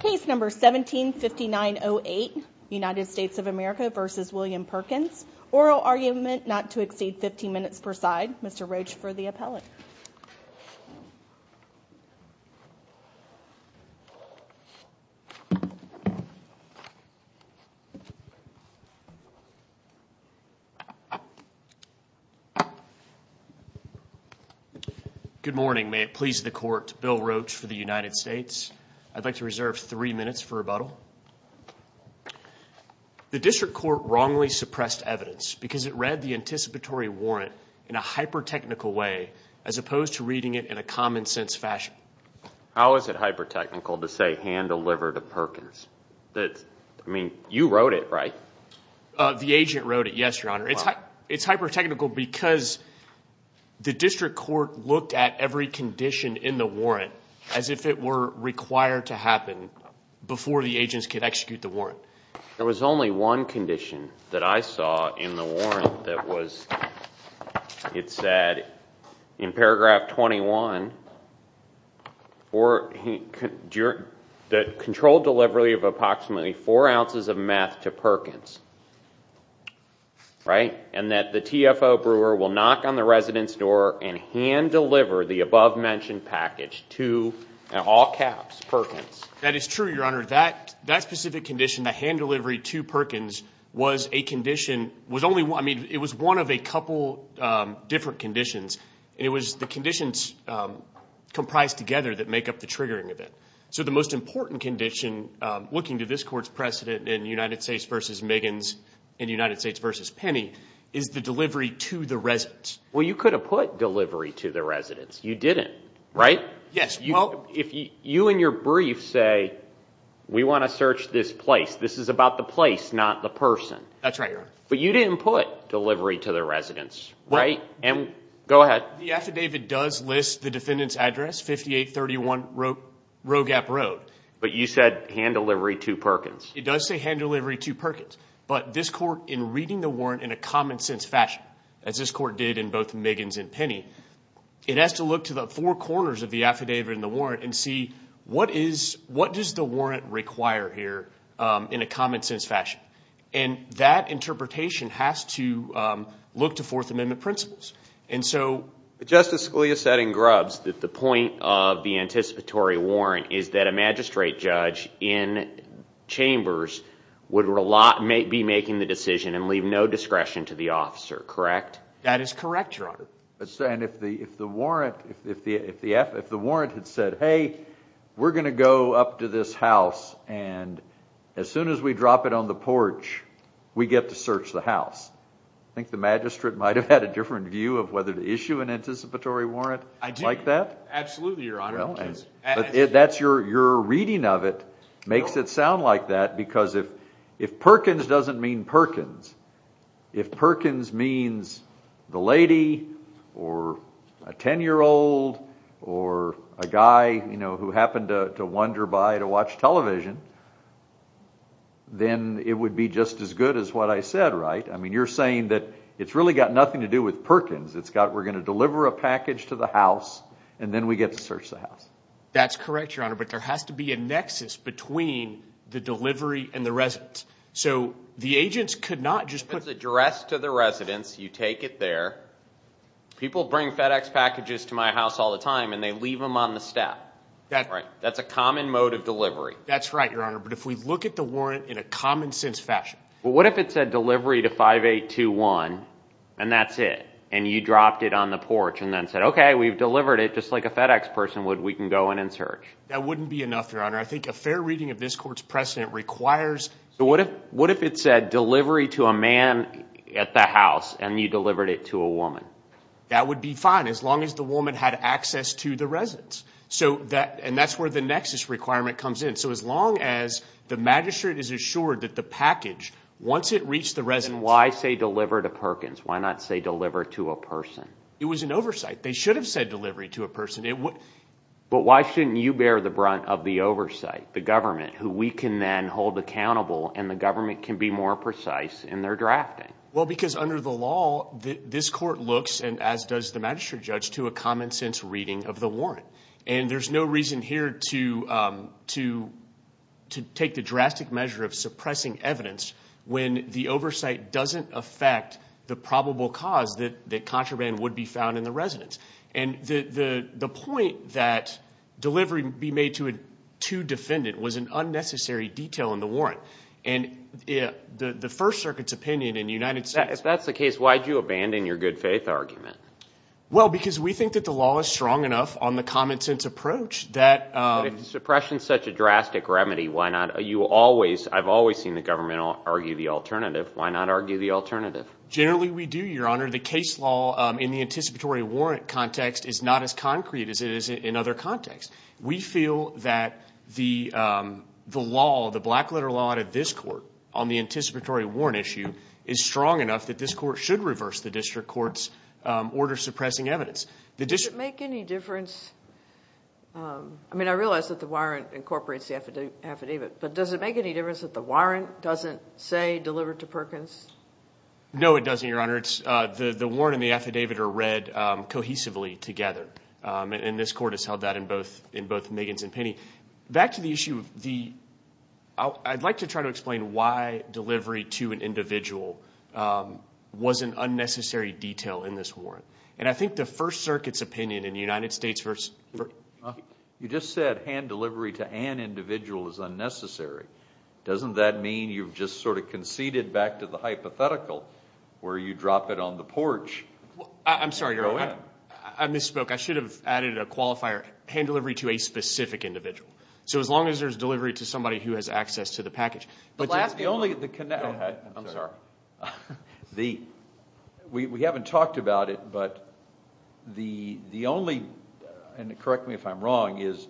Case No. 17-5908 United States of America v. William Perkins Oral argument not to exceed 15 minutes per side Mr. Roach for the appellate Good morning. May it please the court, Bill Roach for the United States I'd like to reserve three minutes for rebuttal The district court wrongly suppressed evidence because it read the anticipatory warrant in a hyper-technical way as opposed to reading it in a common-sense fashion How is it hyper-technical to say, hand a liver to Perkins? I mean, you wrote it, right? The agent wrote it, yes, Your Honor It's hyper-technical because the district court looked at every condition in the warrant as if it were required to happen before the agents could execute the warrant There was only one condition that I saw in the warrant that was It said in paragraph 21 that controlled delivery of approximately four ounces of meth to Perkins and that the TFO brewer will knock on the resident's door and hand deliver the above-mentioned package to, in all caps, Perkins That is true, Your Honor That specific condition, the hand delivery to Perkins, was a condition I mean, it was one of a couple different conditions It was the conditions comprised together that make up the triggering event So the most important condition, looking to this court's precedent in United States v. Miggins and United States v. Penny is the delivery to the resident Well, you could have put delivery to the residents You didn't, right? Yes, well You in your brief say, we want to search this place This is about the place, not the person That's right, Your Honor But you didn't put delivery to the residents, right? Go ahead The affidavit does list the defendant's address, 5831 Rogap Road But you said hand delivery to Perkins It does say hand delivery to Perkins But this court, in reading the warrant in a common-sense fashion as this court did in both Miggins and Penny It has to look to the four corners of the affidavit and the warrant and see what does the warrant require here in a common-sense fashion And that interpretation has to look to Fourth Amendment principles And so Justice Scalia said in Grubbs that the point of the anticipatory warrant is that a magistrate judge in chambers would be making the decision and leave no discretion to the officer, correct? That is correct, Your Honor And if the warrant had said, hey, we're going to go up to this house and as soon as we drop it on the porch, we get to search the house I think the magistrate might have had a different view Absolutely, Your Honor Your reading of it makes it sound like that because if Perkins doesn't mean Perkins if Perkins means the lady or a ten-year-old or a guy who happened to wander by to watch television then it would be just as good as what I said, right? You're saying that it's really got nothing to do with Perkins We're going to deliver a package to the house and then we get to search the house That's correct, Your Honor But there has to be a nexus between the delivery and the residence So the agents could not just put It's addressed to the residence, you take it there People bring FedEx packages to my house all the time and they leave them on the step That's a common mode of delivery That's right, Your Honor But if we look at the warrant in a common sense fashion What if it said delivery to 5821 and that's it and you dropped it on the porch and then said Okay, we've delivered it just like a FedEx person would We can go in and search That wouldn't be enough, Your Honor I think a fair reading of this court's precedent requires What if it said delivery to a man at the house and you delivered it to a woman? That would be fine as long as the woman had access to the residence and that's where the nexus requirement comes in So as long as the magistrate is assured that the package once it reached the residence Then why say deliver to Perkins? Why not say deliver to a person? It was an oversight They should have said delivery to a person But why shouldn't you bear the brunt of the oversight? The government who we can then hold accountable and the government can be more precise in their drafting Well, because under the law this court looks and as does the magistrate judge to a common sense reading of the warrant and there's no reason here to take the drastic measure of suppressing evidence when the oversight doesn't affect the probable cause that contraband would be found in the residence and the point that delivery be made to a defendant was an unnecessary detail in the warrant and the First Circuit's opinion in the United States If that's the case why did you abandon your good faith argument? Well, because we think that the law is strong enough on the common sense approach that Suppression is such a drastic remedy Why not? I've always seen the government argue the alternative Why not argue the alternative? Generally we do, Your Honor The case law in the anticipatory warrant context is not as concrete as it is in other contexts We feel that the law the black letter law out of this court on the anticipatory warrant issue is strong enough that this court should reverse the district court's order suppressing evidence Does it make any difference I mean, I realize that the warrant incorporates the affidavit but does it make any difference that the warrant doesn't say delivered to Perkins? No it doesn't, Your Honor The warrant and the affidavit are read cohesively together and this court has held that in both in both Miggins and Penny Back to the issue of the I'd like to try to explain why delivery to an individual was an unnecessary detail in this warrant and I think the First Circuit's opinion in the United States You just said hand delivery to an individual is unnecessary Doesn't that mean you've just sort of conceded back to the hypothetical where you drop it on the porch I'm sorry, Your Honor I misspoke I should have added a qualifier hand delivery to a specific individual So as long as there's delivery to somebody who has access to the package But that's the only Go ahead, I'm sorry We haven't talked about it but the only and correct me if I'm wrong is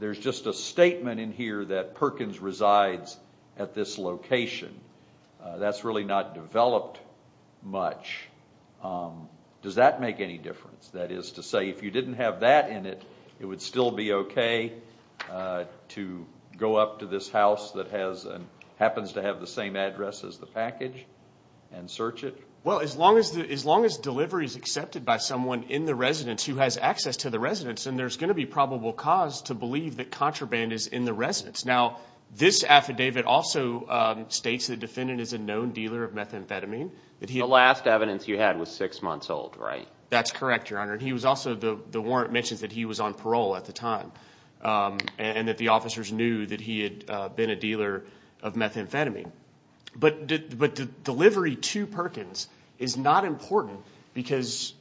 there's just a statement in here that Perkins resides at this location That's really not developed much Does that make any difference? That is to say if you didn't have that in it it would still be okay to go up to this house that happens to have the same address as the package and search it? Well, as long as delivery is accepted by someone in the residence then there's going to be probable cause to believe that contraband is in the residence Now, this affidavit also states the defendant is a known dealer of methamphetamine The last evidence you had was six months old, right? That's correct, Your Honor He was also the warrant mentions that he was on parole at the time and that the officers knew that he had been a dealer of methamphetamine But the delivery to Perkins is not important because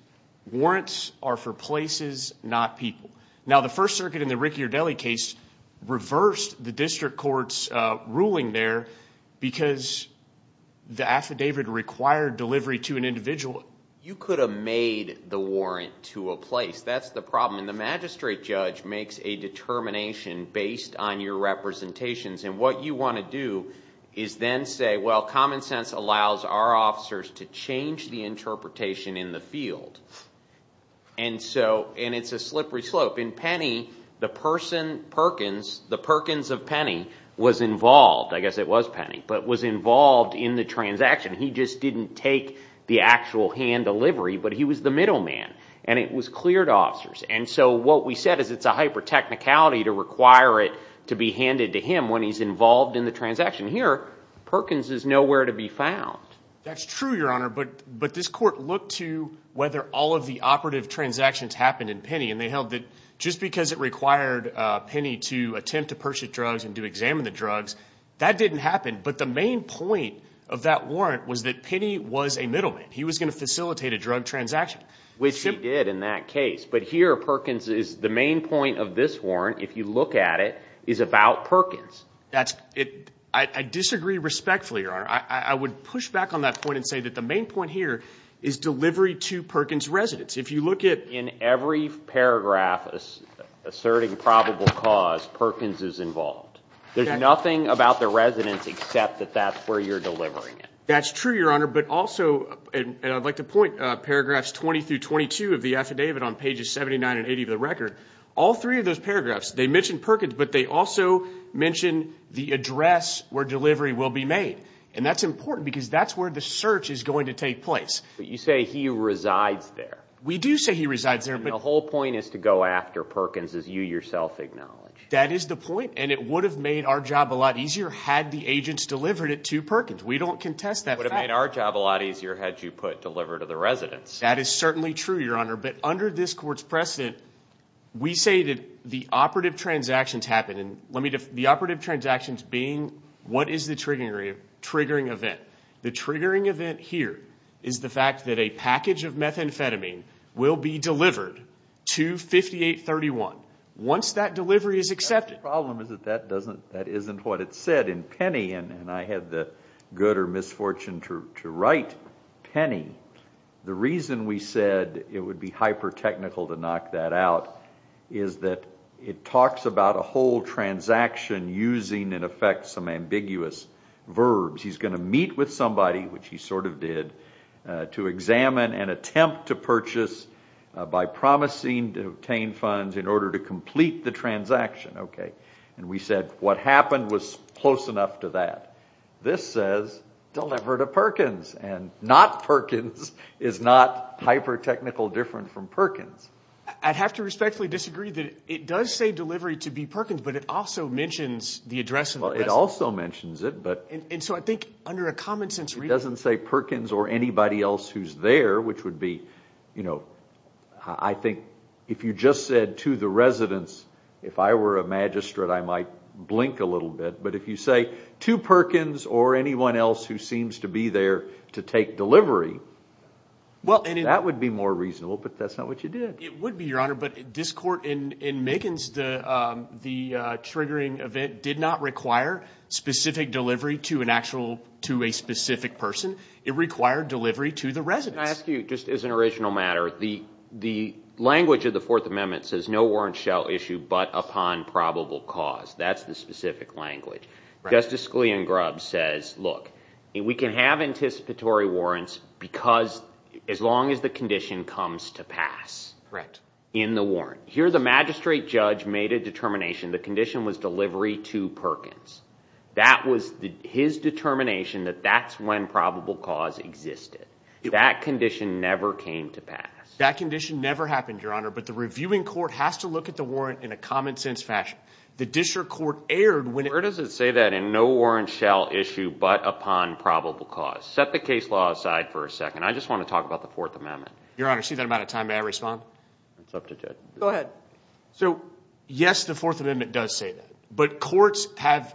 warrants are for places, not people Now, the First Circuit in the Ricciardelli case reversed the district court's ruling there because the affidavit required delivery to an individual You could have made the warrant to a place That's the problem and the magistrate judge makes a determination based on your representations and what you want to do is then say well, common sense allows our officers to change the interpretation in the field and so and it's a slippery slope In Penny, the person Perkins the Perkins of Penny was involved I guess it was Penny but was involved in the transaction He just didn't take the actual hand delivery but he was the middleman and it was clear to officers and so what we said is it's a hyper-technicality to require it to be handed to him when he's involved in the transaction Here, Perkins is nowhere to be found That's true, Your Honor but this court looked to whether all of the operative transactions happened in Penny and they held that just because it required Penny to attempt to purchase drugs and to examine the drugs that didn't happen but the main point of that warrant was that Penny was a middleman He was going to facilitate a drug transaction Which he did in that case but here, Perkins is the main point of this warrant if you look at it is about Perkins I disagree respectfully, Your Honor I would push back on that point and say that the main point here is delivery to Perkins residents If you look at in every paragraph asserting probable cause Perkins is involved There's nothing about the residents except that that's where you're delivering it That's true, Your Honor but also and I'd like to point paragraphs 20 through 22 of the affidavit on pages 79 and 80 of the record all three of those paragraphs they mention Perkins but they also mention the address where delivery will be made and that's important because that's where the search is going to take place But you say he resides there We do say he resides there The whole point is to go after Perkins as you yourself acknowledge That is the point and it would have made our job a lot easier had the agents delivered it to Perkins We don't contest that fact It would have made our job a lot easier had you put deliver to the residents That is certainly true, Your Honor but under this court's precedent we say that the operative transactions happen and let me just the operative transactions being what is the triggering event The triggering event here is the fact that a package of methamphetamine will be delivered to 5831 once that delivery is accepted The problem is that that isn't what it said in Penny and I had the good or misfortune to write Penny The reason we said it would be hyper-technical to knock that out is that it talks about a whole transaction using in effect some ambiguous verbs He's going to meet with somebody which he sort of did to examine and attempt to purchase by promising to obtain funds in order to complete the transaction and we said what happened was close enough to that This says deliver to Perkins and not Perkins is not hyper-technical different from Perkins I'd have to respectfully disagree that it does say delivery to be Perkins but it also mentions the address It also mentions it and so I think under a common sense reading it doesn't say Perkins or anybody else who's there which would be you know I think if you just said to the residence if I were a magistrate I might blink a little bit but if you say to Perkins or anyone else who seems to be there to take delivery that would be more reasonable but that's not what you did It would be your honor but this court in Megan's the triggering event did not require specific delivery to an actual to a specific person It required delivery to the residence Can I ask you just as an original matter the language of the Fourth Amendment says no warrant shall issue but upon probable cause That's the specific language Justice Scalia and Grubb says look we can have anticipatory warrants because as long as the condition comes to pass in the warrant Here the magistrate judge made a determination the condition was delivery to Perkins That was his determination that that's when probable cause existed That condition never came to pass That condition never happened your honor but the reviewing court has to look at the warrant in a common sense fashion The district court erred when Where does it say that in no warrant shall issue but upon probable cause Set the case law aside for a second I just want to talk about the Fourth Amendment Your honor see that I'm out of time May I respond? Go ahead So yes the Fourth Amendment does say that but courts have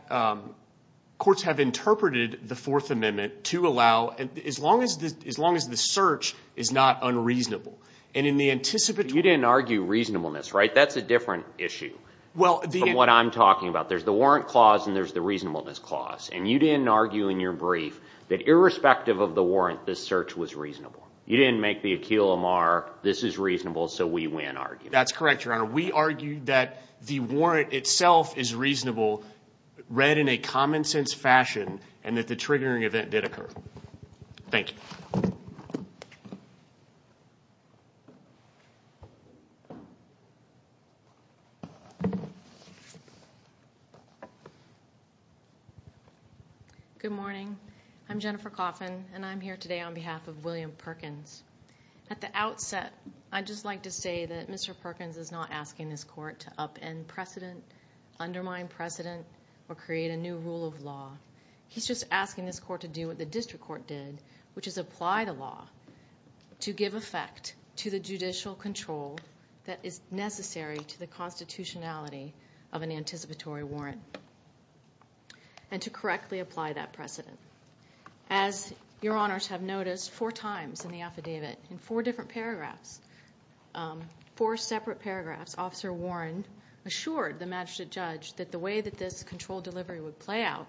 courts have interpreted the Fourth Amendment to allow as long as the as long as the search is not unreasonable and in the anticipatory You didn't argue reasonableness right? That's a different issue Well the From what I'm talking about There's the warrant clause and there's the reasonableness clause and you didn't argue in your brief that irrespective of the warrant the search was reasonable You didn't make the Akil Amar this is reasonable so we win argument That's correct your honor We argue that the warrant itself is reasonable read in a common sense fashion and that the triggering event did occur Thank you Good morning I'm Jennifer Coffin and I'm here today on behalf of William Perkins At the outset I'd just like to say that Mr. Perkins is not asking this court to up end precedent undermine precedent or create a new rule of law He's just asking this court to do what the district court did which is apply the law to give effect to the judicial control that is necessary to the constitutionality of an anticipatory warrant and to correctly apply that precedent As your honors have noticed four times in the affidavit in four different paragraphs four separate paragraphs Officer Warren assured the magistrate judge that the way that this control delivery would play out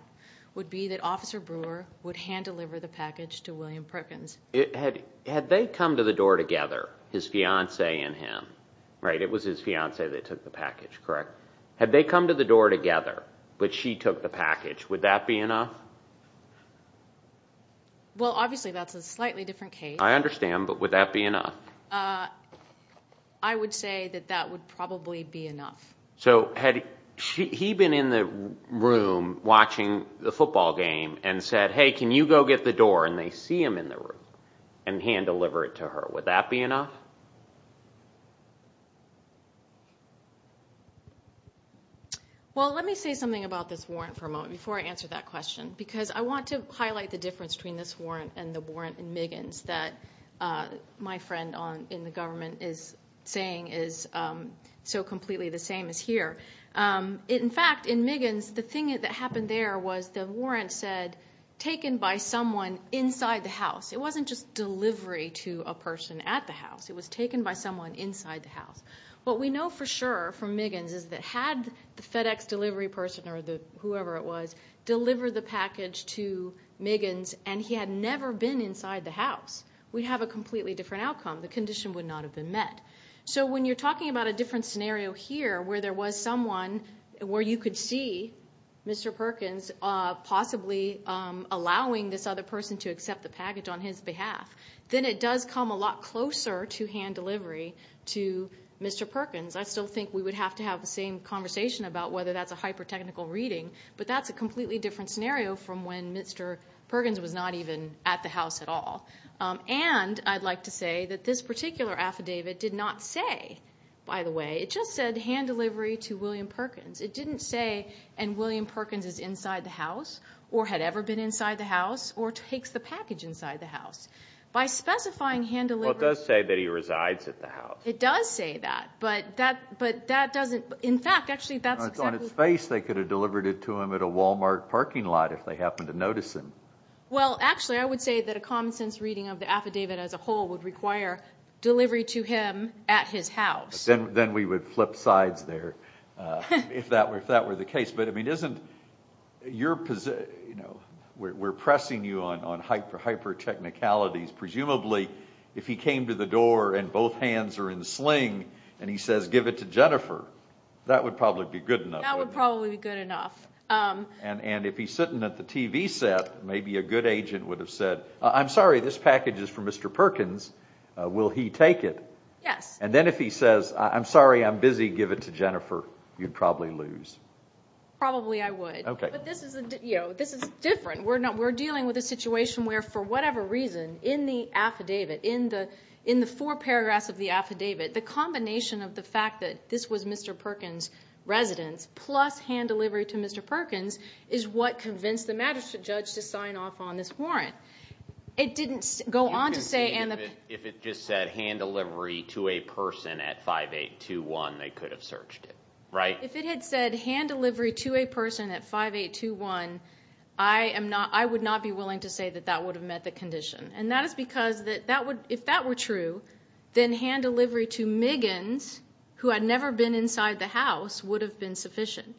would be that Officer Brewer would hand deliver the package to William Perkins Had they come to the door together his fiance and him right it was his fiance that took the package correct Had they come to the door together but she took the package would that be enough? Well obviously that's a slightly different case I understand but would that be enough? I would say that that would probably be enough So had he been in the room watching the football game and said hey can you go get the door and they see him in the room and hand deliver it to her would that be enough? Well let me say something about this warrant for a moment before I answer that question because I want to highlight the difference between this warrant and the warrant in Miggins that my friend in the government is saying is so completely the same as here in fact in Miggins the thing that happened there was the warrant said taken by someone inside the house it wasn't just delivery to a person at the house it was taken by someone inside the house what we know for sure from Miggins is that had the FedEx delivery person or whoever it was deliver the package to Miggins and he had never been inside the house we'd have a completely different outcome the condition would not have been met so when you're talking about a different scenario here where there was someone where you could see Mr. Perkins possibly allowing this other person to accept the package on his behalf then it does come a lot closer to hand delivery to Mr. Perkins I still think we would have to have the same conversation about whether that's a hyper technical reading but that's a completely different scenario from when Mr. Perkins was not even at the house at all and I'd like to say that this particular affidavit did not say by the way it just said hand delivery to William Perkins it didn't say and William Perkins is inside the house or had ever been inside the house or takes the package inside the house by specifying hand delivery well it does say that he resides at the house it does say that but that doesn't in fact actually that's exactly on his face they could have delivered it to him at a Walmart parking lot if they happened to notice him well actually I would say that a common sense reading of the affidavit as a whole would require delivery to him at his house then we would flip sides there if that were the case but I mean isn't your position you know we're pressing you on hyper technicalities presumably if he came to the door and both hands are in sling and he says give it to Jennifer that would probably be good enough that would probably be good enough and if he's sitting at the TV set maybe a good agent would have said I'm sorry this package is for Mr. Perkins will he take it yes and then if he says I'm sorry I'm busy give it to Jennifer you'd probably lose probably I would okay but this is you know this is different we're dealing with a situation where for whatever reason in the affidavit in the four paragraphs of the affidavit the combination of the fact that this was Mr. Perkins' residence plus hand delivery to Mr. Perkins is what convinced the magistrate judge to sign off on this warrant it didn't go on to say if it just said hand delivery to a person at 5821 they could have searched it right if it had said hand delivery to a person at 5821 I would not be willing to say that that would have met the condition and that is because if that were true to Miggins who had never been inside the house would have been sufficient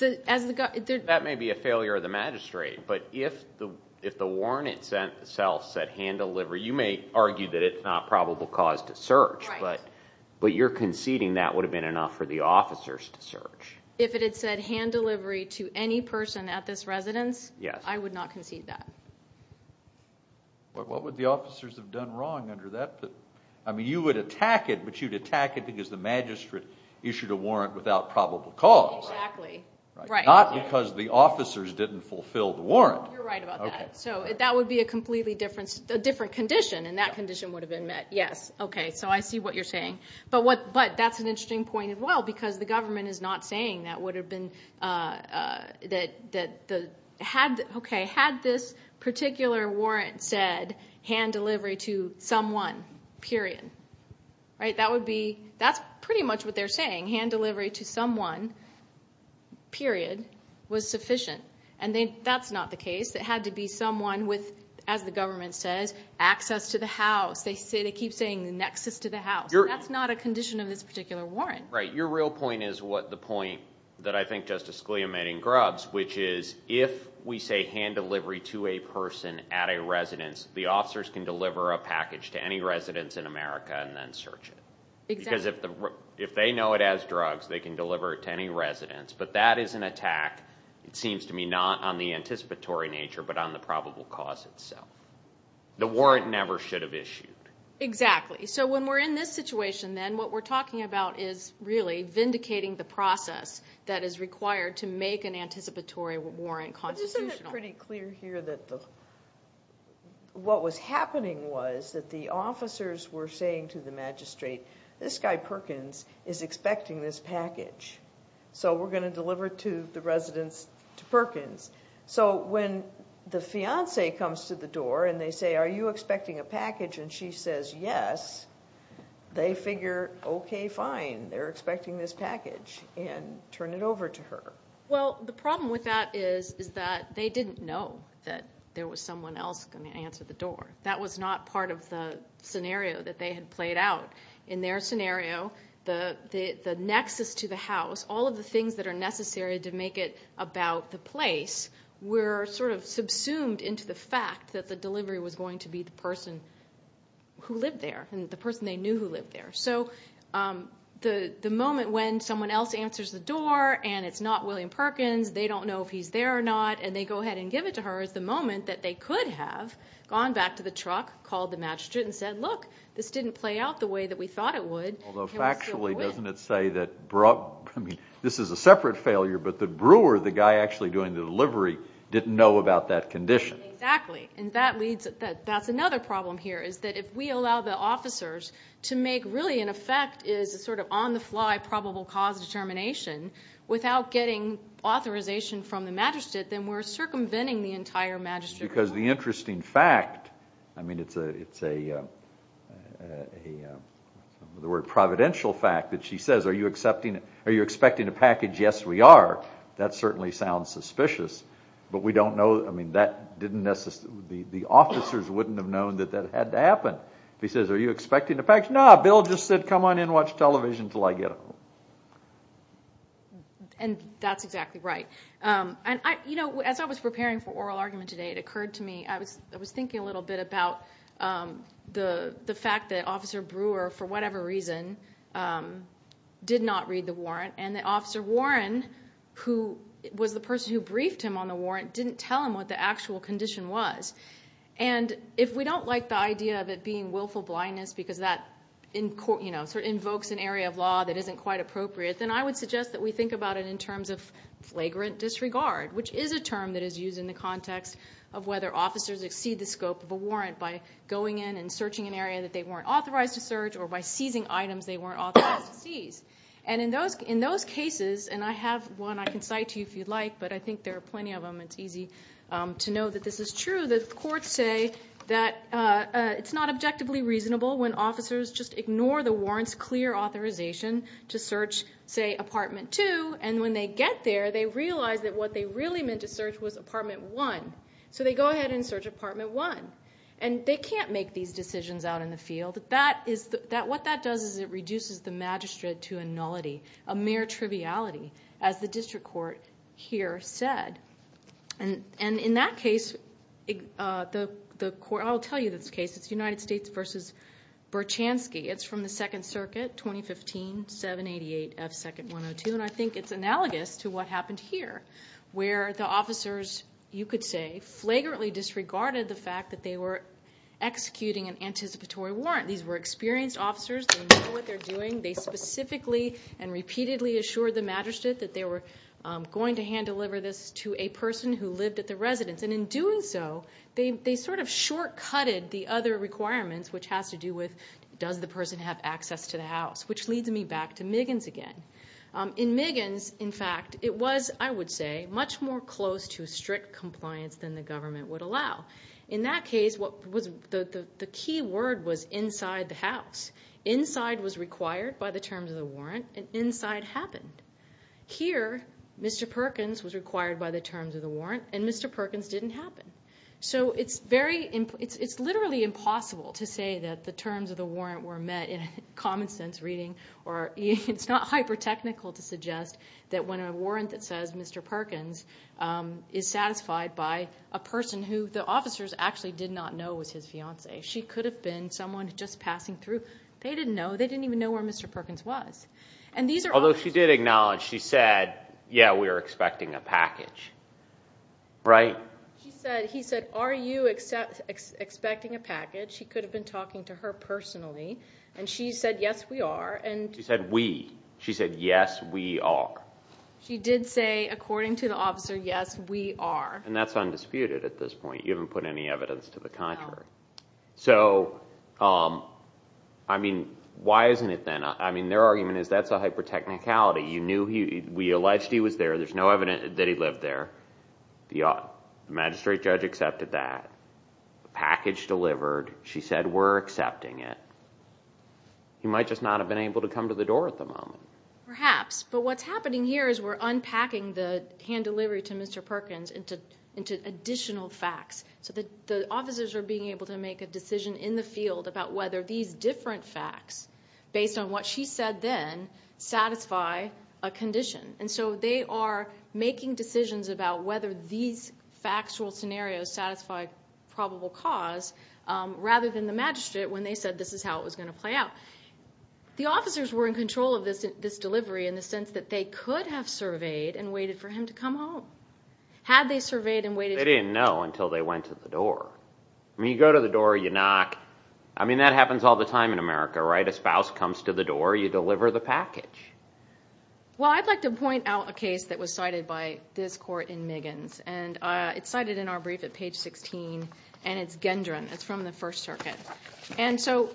that may be a failure of the magistrate but if the warrant itself said hand delivery to a person if it had said hand delivery you may argue that it's not probable cause to search but you're conceding that would have been enough for the officers to search if it had said hand delivery to any person at this residence I would not concede that what would the officers have done wrong under that I mean you would attack it but you'd attack it because the magistrate issued a warrant without probable cause exactly not because the officers didn't fulfill the warrant you're right about that so that would be a completely different condition and that condition would have been met yes okay so I see what you're saying but that's an interesting point as well because the government is not saying that would have been that had okay had this particular warrant said hand delivery to someone period right that would be that's pretty much what they're saying hand delivery to someone period was sufficient and then that's not the case it had to be someone with as the government says access to the house they keep saying nexus to the house that's not a condition of this particular warrant right your real point is what the point that I think Justice Scalia made in Grubbs which is if we say hand delivery to a person at a residence the officers can deliver a package to any residence in America and then search it because if they know it as drugs they can deliver it to any residence but that is an attack it seems to me not on the anticipatory nature but on the probable cause itself the warrant never should have issued exactly so when we're in this situation then what we're talking about is really vindicating the process that is required to make an anticipatory warrant constitutional isn't it pretty clear here that the what was happening was that the officers were saying to the magistrate this guy Perkins is expecting this package so we're going to deliver to the residence to Perkins so when the fiance comes to the door and they say are you expecting a package and she says yes they figure okay fine they're expecting this package and turn it over to her well the problem with that is is that they didn't know that there was someone else going to answer the door that was not part of the scenario that they had played out in their scenario the the nexus to the house all of the things that are necessary to make it about the place were sort of subsumed into the fact that the delivery was going to be the person who lived there and the person they knew who lived there so the the moment when someone else answers the door and it's not William Perkins they don't know if he's there or not and they go ahead and give it to her there's the moment that they could have gone back to the truck called the magistrate and said look this didn't play out the way that we thought it would although factually doesn't it say that brought I mean this is a separate failure but the brewer the guy actually doing the delivery didn't know about that condition exactly and that leads that that's another problem here is that if we allow the officers to make really an effect is a sort of on the fly probable cause determination without getting authorization from the magistrate then we're circumventing the entire magistrate rule because the interesting fact I mean it's a it's a a a the word providential fact that she says are you accepting are you expecting a package yes we are that certainly sounds suspicious but we don't know I mean that didn't necessarily the the officers wouldn't have known that that had to happen if he says are you expecting a package no Bill just said come on in watch television until I get home and that's exactly right and I you know as I was preparing for oral argument today it occurred to me I was I was thinking a little bit about the the fact that officer Brewer for whatever reason did not read the warrant and the officer Warren who was the person who briefed him on the warrant didn't tell him what the actual condition was and if we don't like the idea of it being willful blindness because that in court you know sort of invokes an area of law that isn't quite appropriate then I would suggest that we think about it in terms of the term that is used in the context of whether officers exceed the scope of a warrant by going in and searching an area that they weren't authorized to search or by seizing items they weren't authorized to seize and in those in those cases and I have one I can cite to you if you'd like but I think there are plenty of them it's easy to know that this is true the courts say that it's not objectively reasonable when officers just ignore the warrants clear authorization to search say apartment 2 and when they get there they realize that what they really meant to search was apartment 1 so they go ahead and search apartment 1 and they can't make these decisions out in the field that is what that does is it reduces the magistrate to a nullity a mere triviality as the district court here said and in that case the court I'll tell you this case it's United States versus Berchanski it's from the second circuit 2015 788 F second 102 and I think it's analogous to what happened here where the officer you could say flagrantly disregarded the fact that they were executing an anticipatory warrant these were experienced officers they know what they're doing they specifically and repeatedly assured the magistrate that they were going to hand deliver this to a person who lived at the residence and in doing so they sort of shortcutted the other requirements which has to do with does the person have access to the house which leads me back to Miggins again in Miggins in fact it was I would say much more close to strict compliance than the government would allow in that case what was the key word was inside the house inside was required by the terms of the warrant and inside happened here Mr. Perkins was required by the terms of the warrant and Mr. Perkins didn't happen so it's very it's literally impossible to say that the terms of the warrant were met in common sense reading or it's not hyper technical to suggest that when a warrant that says Mr. Perkins is satisfied by a person who the officers actually did not know was his fiance she could have been someone just passing through they didn't know they didn't even know where Mr. Perkins was and these are although she did acknowledge she said yeah we were expecting a package right he said are you expecting a package he could have been talking to her personally and she said yes we are and that's undisputed at this point you haven't put any evidence to the contrary so I mean why isn't it then I mean their argument is that's a hyper technicality you knew we alleged he was there there's no evidence that he lived there the magistrate judge accepted that package delivered she said we're accepting it he might just not have been able to come to the door at the moment perhaps but what's happening here is we're unpacking the hand delivery to Mr. Perkins into additional facts so that the officers are being able to make a decision in the field about whether these different facts based on what she said then satisfy a condition and so they are making decisions about whether these factual scenarios satisfy probable cause rather than the magistrate when they said this is how it was going to play out the officers were in control of this delivery in the sense that they could have surveyed and waited for him to come home had they surveyed and waited they didn't know until they went to the door you go to the door you knock I mean that happens all the time in America a spouse comes to the door you deliver the package well I'd like to point out a case that was cited by this court in Miggins and it's cited in our brief at page 16 and it's Gendron it's from the first circuit and so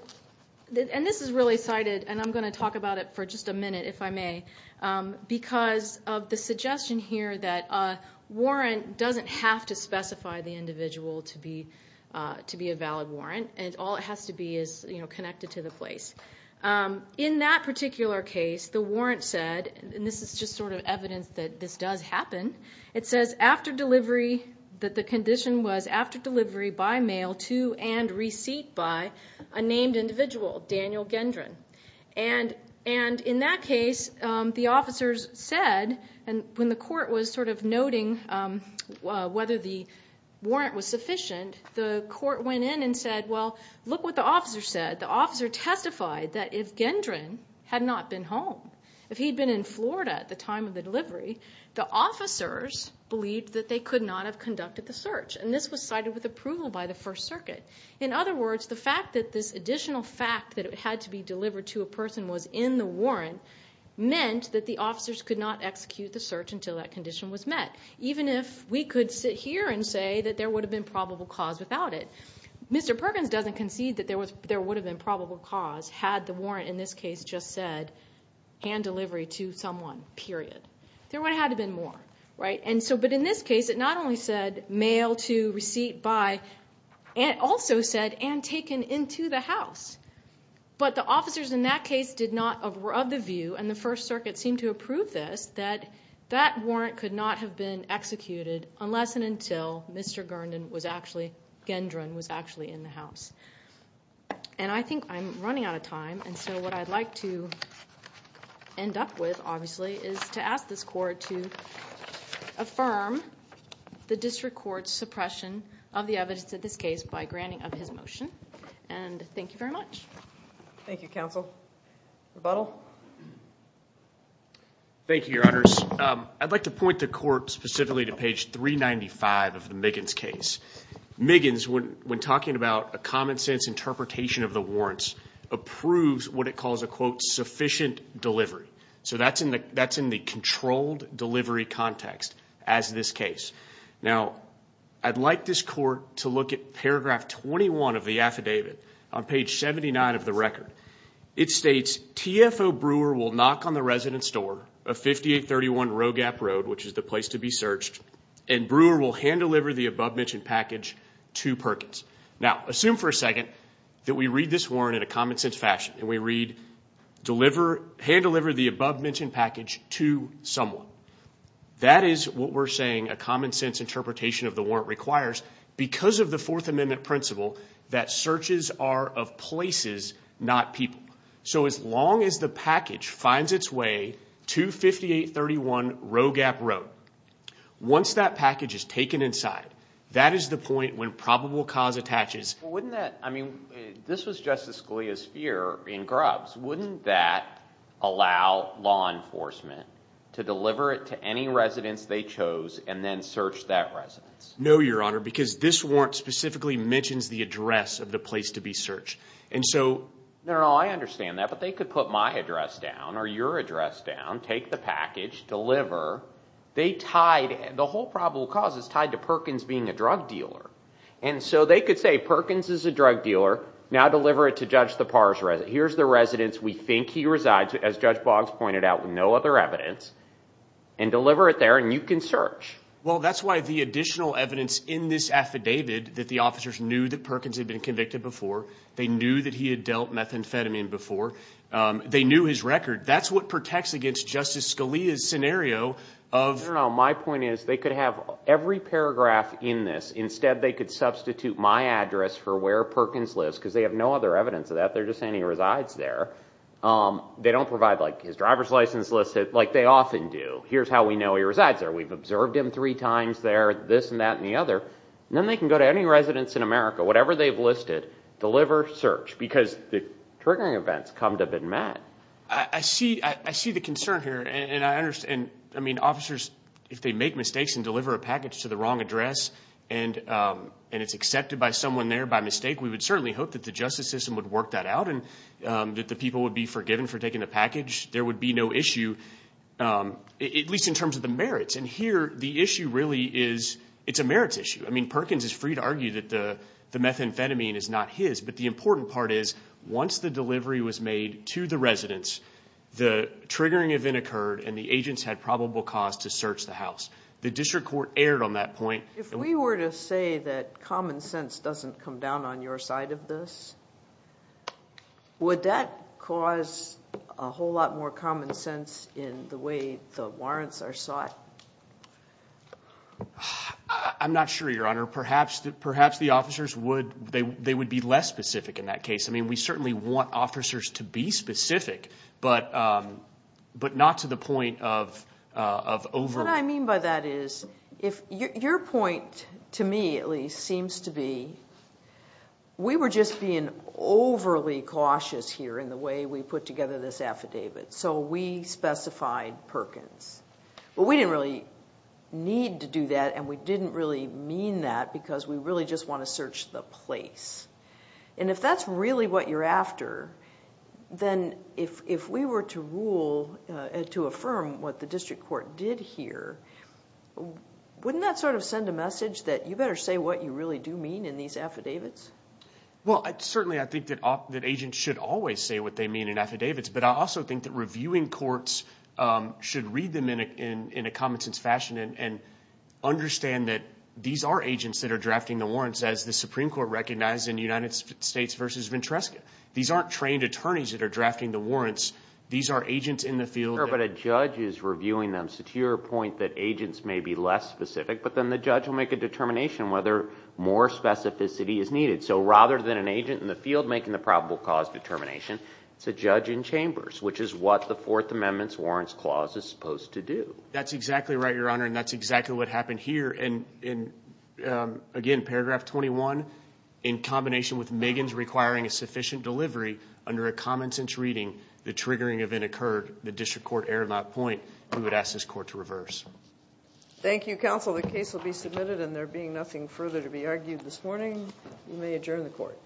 this is really cited and I'm going to talk about it for just a minute if I may because of the suggestion here that a warrant doesn't have to specify the individual to be a valid warrant and all it has to be is connected to the place in that particular case the warrant said and this is just sort of evidence that this does happen it says after delivery that the condition was after delivery by mail to and receipt by a named individual Daniel Gendron and in that case the officers said when the court was sort of noting whether the warrant was sufficient the court went in and said well look what the officer said the officer testified that if Daniel Gendron had not been home if he had been in Florida at the time of the delivery the officers believed that they could not have conducted the search and this was cited with approval by the first circuit in other words the fact that this additional fact that it had to be delivered to a person was in the warrant meant that the officers could not execute the search until that condition was met even if we could sit here and say that there would have been probable cause without it. Mr. Perkins doesn't concede that there would have been probable cause had the warrant in this case just said hand delivery to someone period. There would have been more. In this case it not only said mail to receipt by and also said taken into the house. But the officers in that case did not approve this. That warrant could not have been executed unless and until Mr. Gendron was in the house. I think I'm running out of time. What I would like to end up with obviously is to ask this court to affirm the district court's suppression of the evidence of this case by granting of his motion. Thank you very much. Thank you counsel. Rebuttal? Thank you your honors. I would like to point the court to page 395 of the Miggins case. Miggins when talking about a common sense interpretation of the warrant approves sufficient delivery. That's in the controlled delivery context. I would like this court to look at paragraph 21 of the affidavit on page 79 of the record. It states TFO brewer will knock on the resident's door and brewer will hand deliver the above mentioned package to Perkins. Assume we read this warrant in a common sense fashion. That is what we are saying a common sense interpretation of the warrant requires because of the fourth amendment principle that searches are of places not people. So as long as the package finds its way once that package is taken inside that is the point when probable cause attaches. Wouldn't that allow law enforcement to deliver it to any of those residents? No, Your Honor, because this warrant specifically mentions the address of the place to be searched. I understand that, but they could put my address down or your address down, take the package, deliver. The whole probable cause is tied to Perkins being a drug dealer. And so they could say Perkins is a drug dealer, now deliver it to Judge Boggs, and deliver it there and you can search. Well, that's why the additional evidence in this affidavit that the officers knew that Perkins had been convicted before, they knew that he had dealt methamphetamine before, they knew his record. That's what protects against Justice Scalia's scenario. My point is they could have every paragraph in this, instead they could substitute my address for where Perkins lives, because they have no other evidence of that, they're just saying he resides there. They don't provide his driver's license list, like they often do. Here's how we know he resides there, we've observed him three times there, this and that and the other. Then they can go to any residence in America, whatever they've listed, deliver, search, because the triggering events come to have been met. I see the concern here, and I understand, I mean, officers, if they make a mistake, going to be charged with it, at least in terms of the merits. Here, the issue is, it's a merits issue, Perkins is free to argue that the methamphetamine is not his, but the important part is, once the delivery was made to the residence, the triggering event was methamphetamine, free to argue that the delivery was not his, and that was not free to argue that the delivery was not his. Well, we didn't really need to do that, and we didn't really mean that, because we really just want to search the place. And if that's really what you're after, then if we were to rule, to affirm what the district court did here, wouldn't that sort of send a message that you better say what you really do mean in these affidavits? Well, certainly I think that agents should always say what they mean in affidavits, but I also think that reviewing courts should read them in a common sense fashion and understand that these are agents that are drafting the warrants as the Supreme Court recognized in United States versus Ventresca. These aren't trained attorneys that are drafting the warrants. These are agents in the field. Sure, but a judge is reviewing them, so to your point that agents may be less specific, but then the judge will make a determination whether more specific specific. So, again, paragraph 21, in combination with Megan's requiring a sufficient delivery under a common sense reading, the triggering event occurred. The District Court erred on that point. We would ask this Court to reverse. Thank you, Counsel. The case will be submitted and there being nothing further to be argued this morning, we may adjourn the Court.